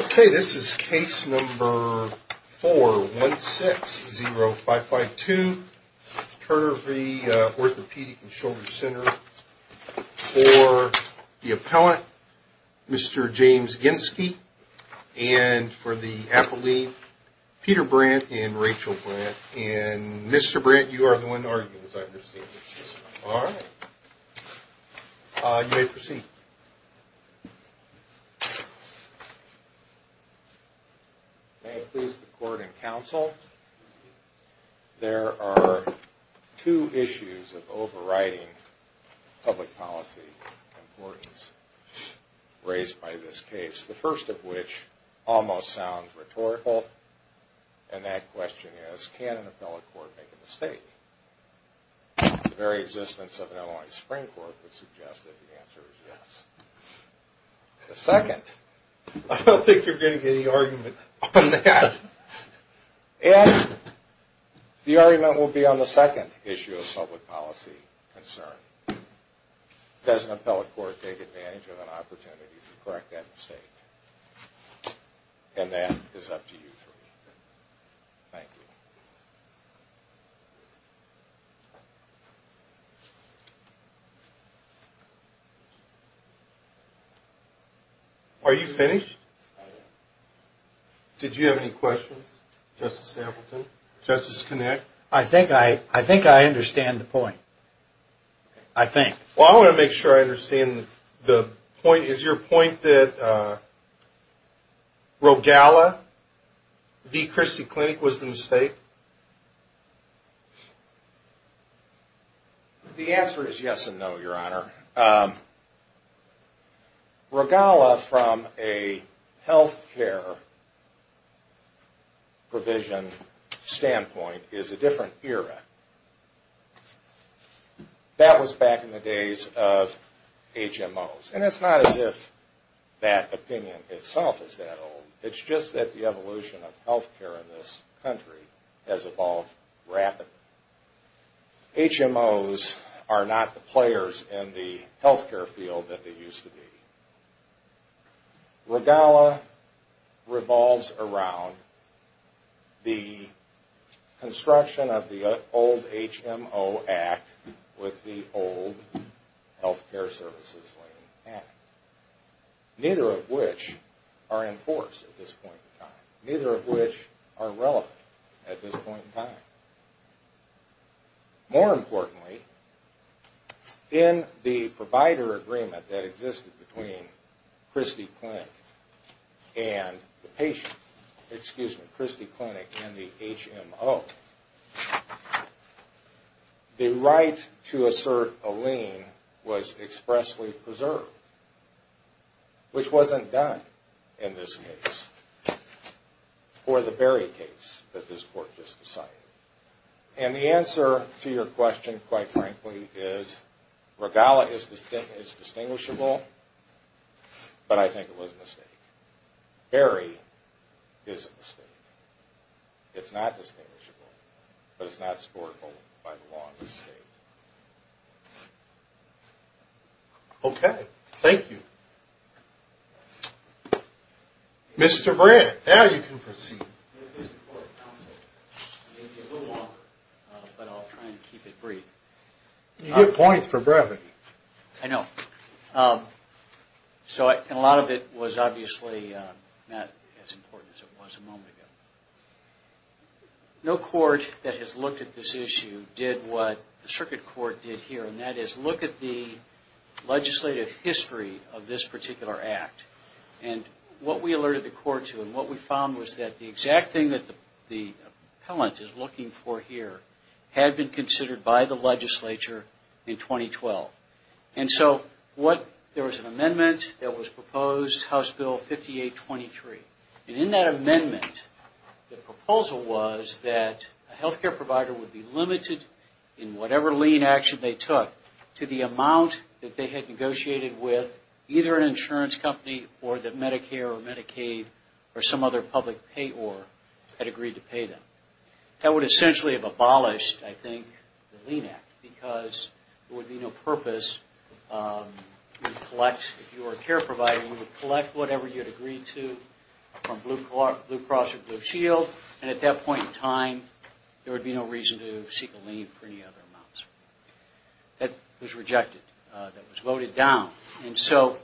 Okay, this is case number 4-160-552, Turner v. Orthopedic & Shoulder Center, for the appellant, Mr. James Ginski, and for the appellee, Peter Brandt and Rachel Brandt, and Mr. Brandt, you are the one to argue, as I understand it. All right. You may proceed. May it please the Court and Counsel, there are two issues of overriding public policy importance raised by this case, the first of which almost sounds rhetorical, and that question is, can an appellate court make a mistake? The very existence of an Illinois Supreme Court would suggest that the answer is yes. The second, I don't think you're going to get any argument on that, and the argument will be on the second issue of public policy concern. Does an appellate court take advantage of an opportunity to correct that mistake? And that is up to you three. Thank you. Are you finished? I am. Did you have any questions, Justice Appleton, Justice Kinnick? I think I understand the point. I think. Well, I want to make sure I understand the point. Is your point that Rogala v. Christie Clinic was the mistake? The answer is yes and no, Your Honor. Rogala, from a health care provision standpoint, is a different era. That was back in the days of HMOs, and it's not as if that opinion itself is that old. It's just that the evolution of health care in this country has evolved rapidly. HMOs are not the players in the health care field that they used to be. Rogala revolves around the construction of the old HMO Act with the old Health Care Services Act, neither of which are in force at this point in time, neither of which are relevant at this point in time. More importantly, in the provider agreement that existed between Christie Clinic and the HMO, the right to assert a lien was expressly preserved, which wasn't done in this case, or the Berry case that this Court just decided. And the answer to your question, quite frankly, is Rogala is distinguishable, but I think it was a mistake. Berry is a mistake. It's not distinguishable, but it's not supportable by the law of this State. Okay. Thank you. Mr. Brandt, now you can proceed. It's a little long, but I'll try and keep it brief. You get points for brevity. I know. And a lot of it was obviously not as important as it was a moment ago. No court that has looked at this issue did what the Circuit Court did here, and that is look at the legislative history of this particular Act. And what we alerted the Court to and what we found was that the exact thing that the appellant is looking for here had been considered by the legislature in 2012. And so there was an amendment that was proposed, House Bill 5823. And in that amendment, the proposal was that a health care provider would be limited in whatever lien action they took to the amount that they had negotiated with either an insurance company or that Medicare or Medicaid or some other public payor had agreed to pay them. That would essentially have abolished, I think, the Lien Act, because there would be no purpose. If you were a care provider, you would collect whatever you had agreed to from Blue Cross or Blue Shield, and at that point in time, there would be no reason to seek a lien for any other amounts. That was rejected. That was voted down. And so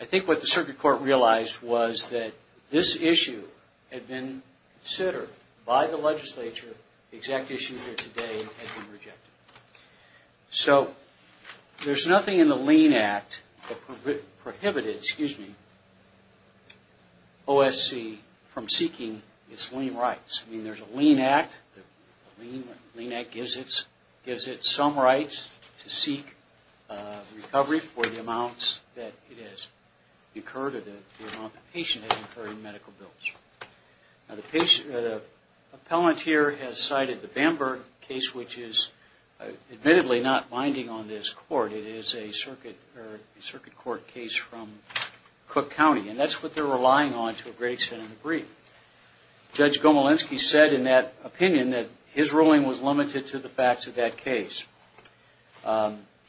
I think what the Circuit Court realized was that this issue had been considered by the legislature. The exact issue here today had been rejected. So there's nothing in the Lien Act that prohibited OSC from seeking its lien rights. I mean, there's a Lien Act. The Lien Act gives it some rights to seek recovery for the amounts that it has incurred or the amount the patient has incurred in medical bills. Now, the appellant here has cited the Bamberg case, which is admittedly not binding on this Court. It is a Circuit Court case from Cook County, and that's what they're relying on to a great extent in the brief. Judge Gomolenski said in that opinion that his ruling was limited to the facts of that case.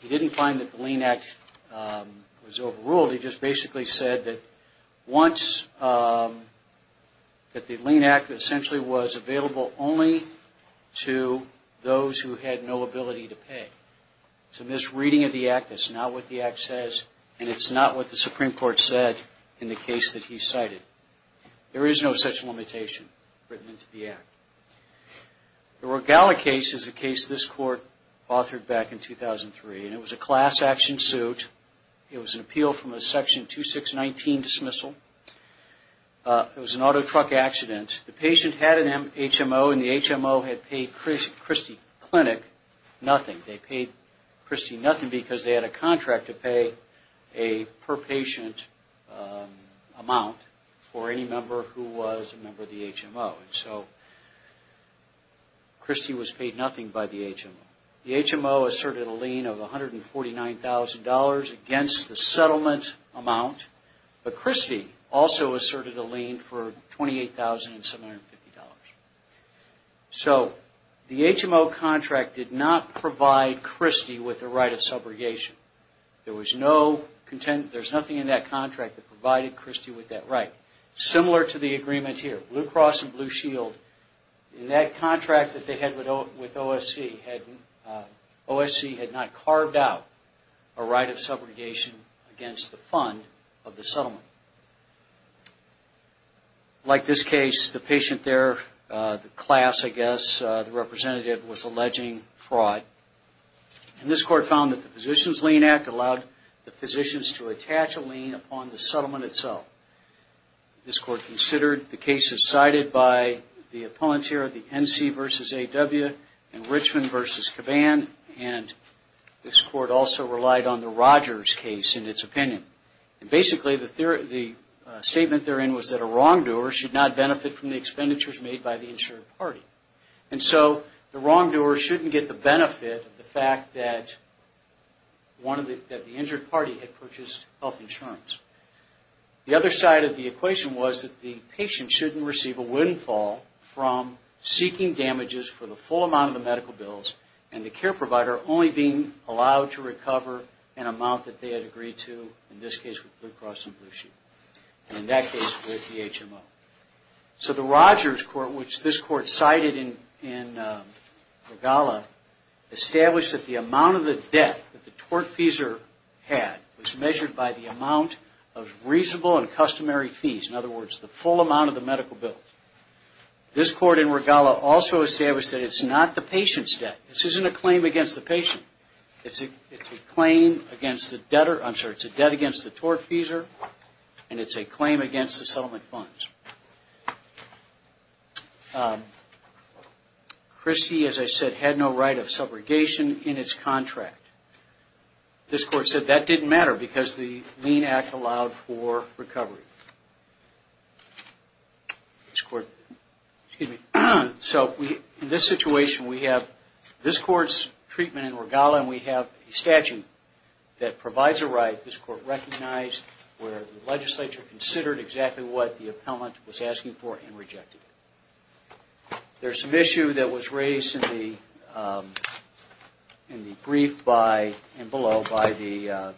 He didn't find that the Lien Act was overruled. He just basically said that once – that the Lien Act essentially was available only to those who had no ability to pay. So in this reading of the Act, that's not what the Act says, and it's not what the Supreme Court said in the case that he cited. There is no such limitation written into the Act. The Rogala case is a case this Court authored back in 2003, and it was a class action suit. It was an appeal from a Section 2619 dismissal. It was an auto truck accident. The patient had an HMO, and the HMO had paid Christie Clinic nothing. They paid Christie nothing because they had a contract to pay a per patient amount for any member who was a member of the HMO. So Christie was paid nothing by the HMO. The HMO asserted a lien of $149,000 against the settlement amount, but Christie also asserted a lien for $28,750. So the HMO contract did not provide Christie with the right of subrogation. There was no – there's nothing in that contract that provided Christie with that right. Similar to the agreement here, Blue Cross and Blue Shield, in that contract that they had with OSC, OSC had not carved out a right of subrogation against the fund of the settlement. Like this case, the patient there, the class, I guess, the representative, was alleging fraud. And this Court found that the Physicians' Lien Act allowed the physicians to attach a lien upon the settlement itself. This Court considered the cases cited by the opponent here, the NC v. AW and Richmond v. Caban, and this Court also relied on the Rogers case in its opinion. And basically, the statement therein was that a wrongdoer should not benefit from the expenditures made by the insured party. And so the wrongdoer shouldn't get the benefit of the fact that one of the – that the injured party had purchased health insurance. The other side of the equation was that the patient shouldn't receive a windfall from seeking damages for the full amount of the medical bills and the care provider only being allowed to recover an amount that they had agreed to, in this case with Blue Cross and Blue Shield, and in that case with the HMO. So the Rogers Court, which this Court cited in Regala, established that the amount of the debt that the tortfeasor had was measured by the amount of reasonable and customary fees. In other words, the full amount of the medical bills. This Court in Regala also established that it's not the patient's debt. This isn't a claim against the patient. It's a claim against the debtor – I'm sorry, it's a debt against the tortfeasor, and it's a claim against the settlement funds. Christie, as I said, had no right of subrogation in its contract. This Court said that didn't matter because the Lean Act allowed for recovery. In this situation, we have this Court's treatment in Regala, and we have a statute that provides a right. This Court recognized where the legislature considered exactly what the appellant was asking for and rejected it. There's an issue that was raised in the brief and below by the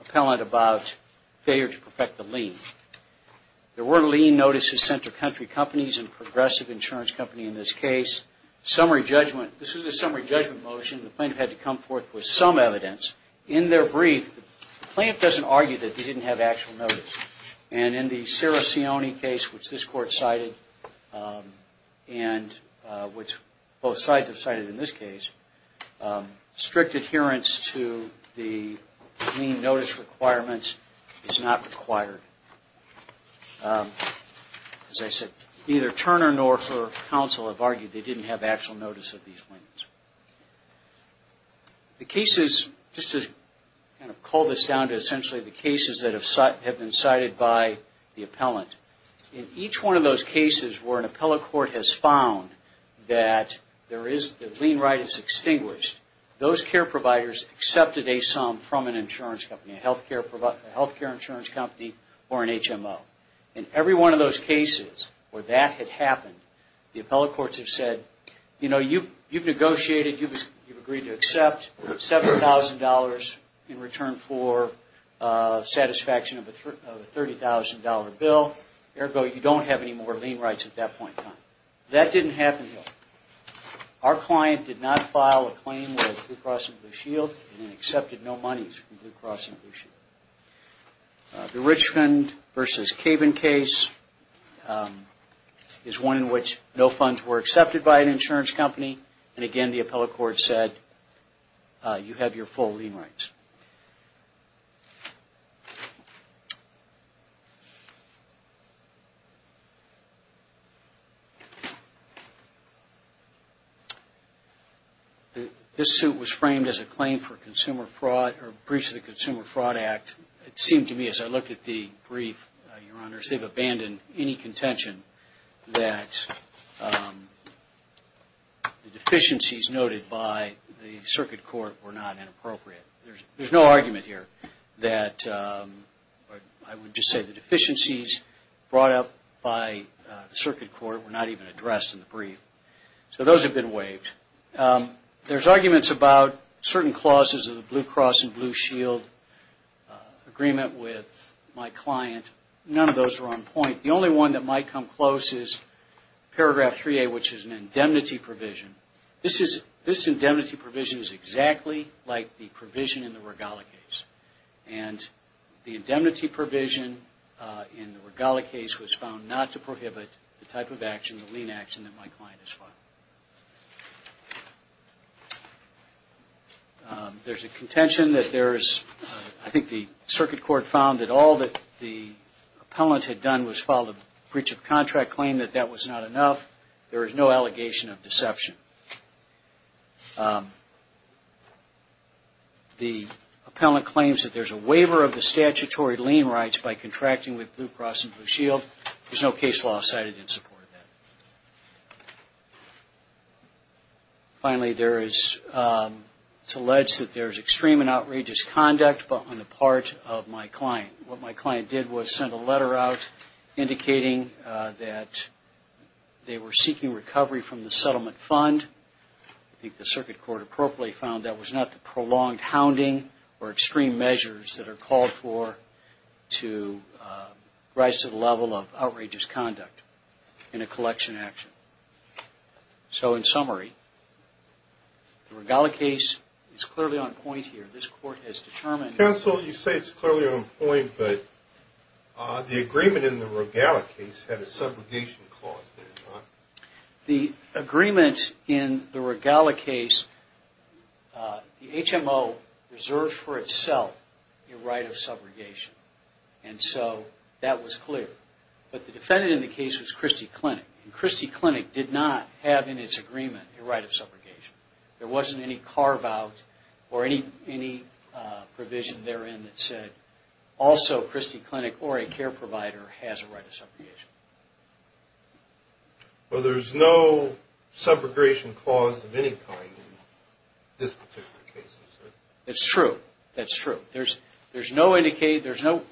appellant about failure to perfect the Lean. There were Lean notices sent to country companies and progressive insurance companies in this case. Summary judgment – this is a summary judgment motion. The plaintiff had to come forth with some evidence. In their brief, the plaintiff doesn't argue that they didn't have actual notice. And in the Ciricione case, which this Court cited, and which both sides have cited in this case, strict adherence to the Lean notice requirements is not required. As I said, neither Turner nor her counsel have argued they didn't have actual notice of these claims. Just to call this down to essentially the cases that have been cited by the appellant, in each one of those cases where an appellate court has found that the Lean right is extinguished, those care providers accepted a sum from an insurance company, a health care insurance company, or an HMO. In every one of those cases where that had happened, the appellate courts have said, you know, you've negotiated, you've agreed to accept $7,000 in return for satisfaction of a $30,000 bill. Ergo, you don't have any more Lean rights at that point in time. That didn't happen here. Our client did not file a claim with Blue Cross and Blue Shield and accepted no monies from Blue Cross and Blue Shield. The Richland v. Cabin case is one in which no funds were accepted by an insurance company. And again, the appellate court said, you have your full Lean rights. This suit was framed as a claim for consumer fraud, or a breach of the Consumer Fraud Act. It seemed to me as I looked at the brief, Your Honors, they've abandoned any contention that the deficiencies noted by the circuit court were not inappropriate. There's no argument here that I would just say the deficiencies brought up by the circuit court were not even addressed in the brief. So those have been waived. There's arguments about certain clauses of the Blue Cross and Blue Shield agreement with my client. None of those are on point. The only one that might come close is paragraph 3A, which is an indemnity provision. This indemnity provision is exactly like the provision in the Regala case. And the indemnity provision in the Regala case was found not to prohibit the type of action, the Lean action, that my client has filed. There's a contention that there is, I think the circuit court found that all that the appellant had done was file a breach of contract claim, that that was not enough. There is no allegation of deception. The appellant claims that there's a waiver of the statutory Lean rights by contracting with Blue Cross and Blue Shield. There's no case law cited in support of that. Finally, it's alleged that there's extreme and outrageous conduct on the part of my client. What my client did was send a letter out indicating that they were seeking recovery from the settlement fund. I think the circuit court appropriately found that was not the prolonged hounding or extreme measures that are called for to rise to the level of outrageous conduct in a collection action. So in summary, the Regala case is clearly on point here. Counsel, you say it's clearly on point, but the agreement in the Regala case had a subrogation clause, did it not? The agreement in the Regala case, the HMO reserved for itself a right of subrogation. And so that was clear. But the defendant in the case was Christie Clinic. And Christie Clinic did not have in its agreement a right of subrogation. There wasn't any carve out or any provision therein that said also Christie Clinic or a care provider has a right of subrogation. Well, there's no subrogation clause of any kind in this particular case, is there? It's true. That's true. But there's no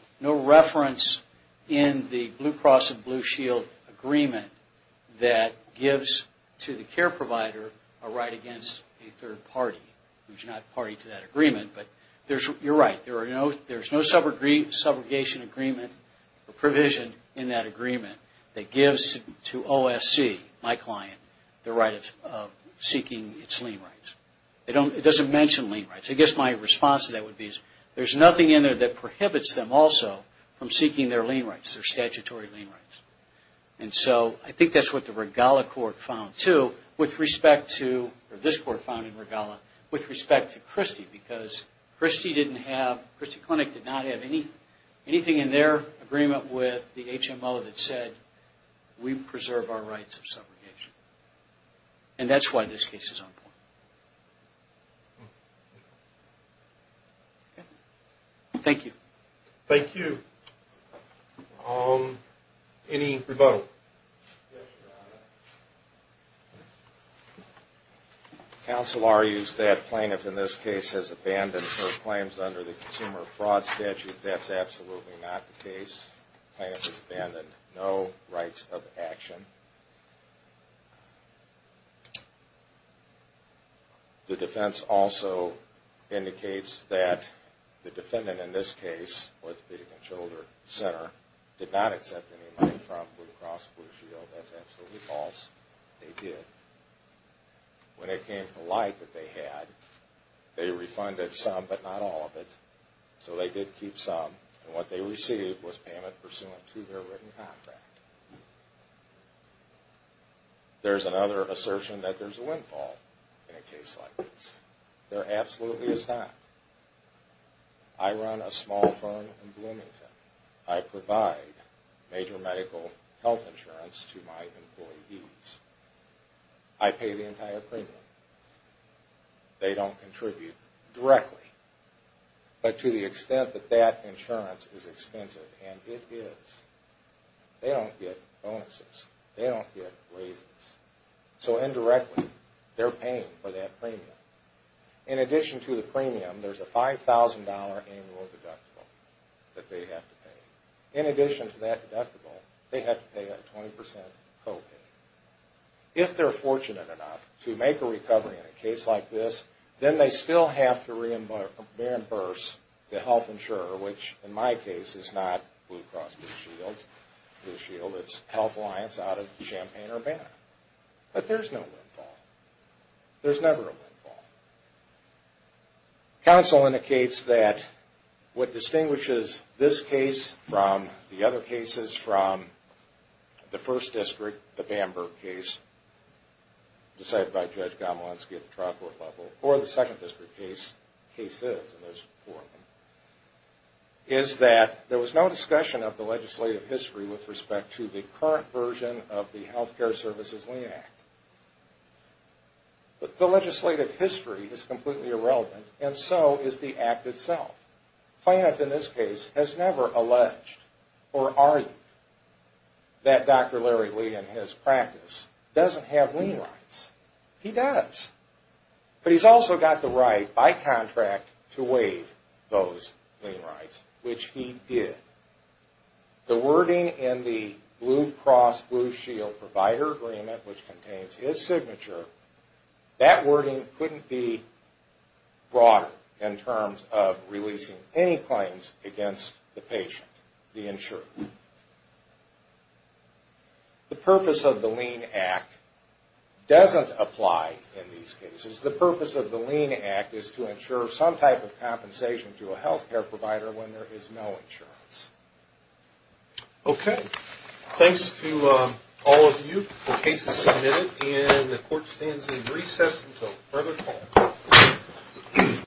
reference in the Blue Cross and Blue Shield agreement that gives to the care provider a right against a third party who's not party to that agreement. But you're right, there's no subrogation agreement or provision in that agreement that gives to OSC, my client, the right of seeking its lien rights. It doesn't mention lien rights. I guess my response to that would be there's nothing in there that prohibits them also from seeking their lien rights, their statutory lien rights. And so I think that's what the Regala court found too with respect to, or this court found in Regala, with respect to Christie. Because Christie Clinic did not have anything in their agreement with the HMO that said we preserve our rights of subrogation. And that's why this case is on board. Thank you. Thank you. Any rebuttal? Yes, Your Honor. Counsel argues that plaintiff in this case has abandoned her claims under the Consumer Fraud Statute. That's absolutely not the case. The plaintiff has abandoned no rights of action. The defense also indicates that the defendant in this case, orthopedic and shoulder center, did not accept any money from Blue Cross Blue Shield. That's absolutely false. They did. When it came to life that they had, they refunded some, but not all of it. So they did keep some. And what they received was payment pursuant to their written contract. There's another assertion that there's a windfall in a case like this. There absolutely is not. I run a small firm in Bloomington. I provide major medical health insurance to my employees. I pay the entire premium. They don't contribute directly. But to the extent that that insurance is expensive, and it is, they don't contribute. They don't get bonuses. They don't get raises. So indirectly, they're paying for that premium. In addition to the premium, there's a $5,000 annual deductible that they have to pay. In addition to that deductible, they have to pay a 20% co-pay. If they're fortunate enough to make a recovery in a case like this, then they still have to reimburse the health insurer, which in my case is not Blue Cross Blue Shield. It's Health Alliance out of Champaign-Urbana. But there's no windfall. There's never a windfall. Counsel indicates that what distinguishes this case from the other cases, from the first district, the Bamberg case decided by Judge Gomolenski at the trial court level, or the second district cases, and there's four of them, is that there was no discussion of the legislative history with respect to the current version of the Health Care Services Lien Act. But the legislative history is completely irrelevant, and so is the Act itself. Plaintiff in this case has never alleged or argued that Dr. Larry Lee and his practice doesn't have lien rights. He does. But he's also got the right by contract to waive those lien rights, which he did. The wording in the Blue Cross Blue Shield provider agreement, which contains his signature, that wording couldn't be broader in terms of releasing any claims against the patient, the insurer. The purpose of the Lien Act doesn't apply in these cases. The purpose of the Lien Act is to ensure some type of compensation to a health care provider when there is no insurance. Okay. Thanks to all of you. The case is submitted, and the court stands in recess until further call.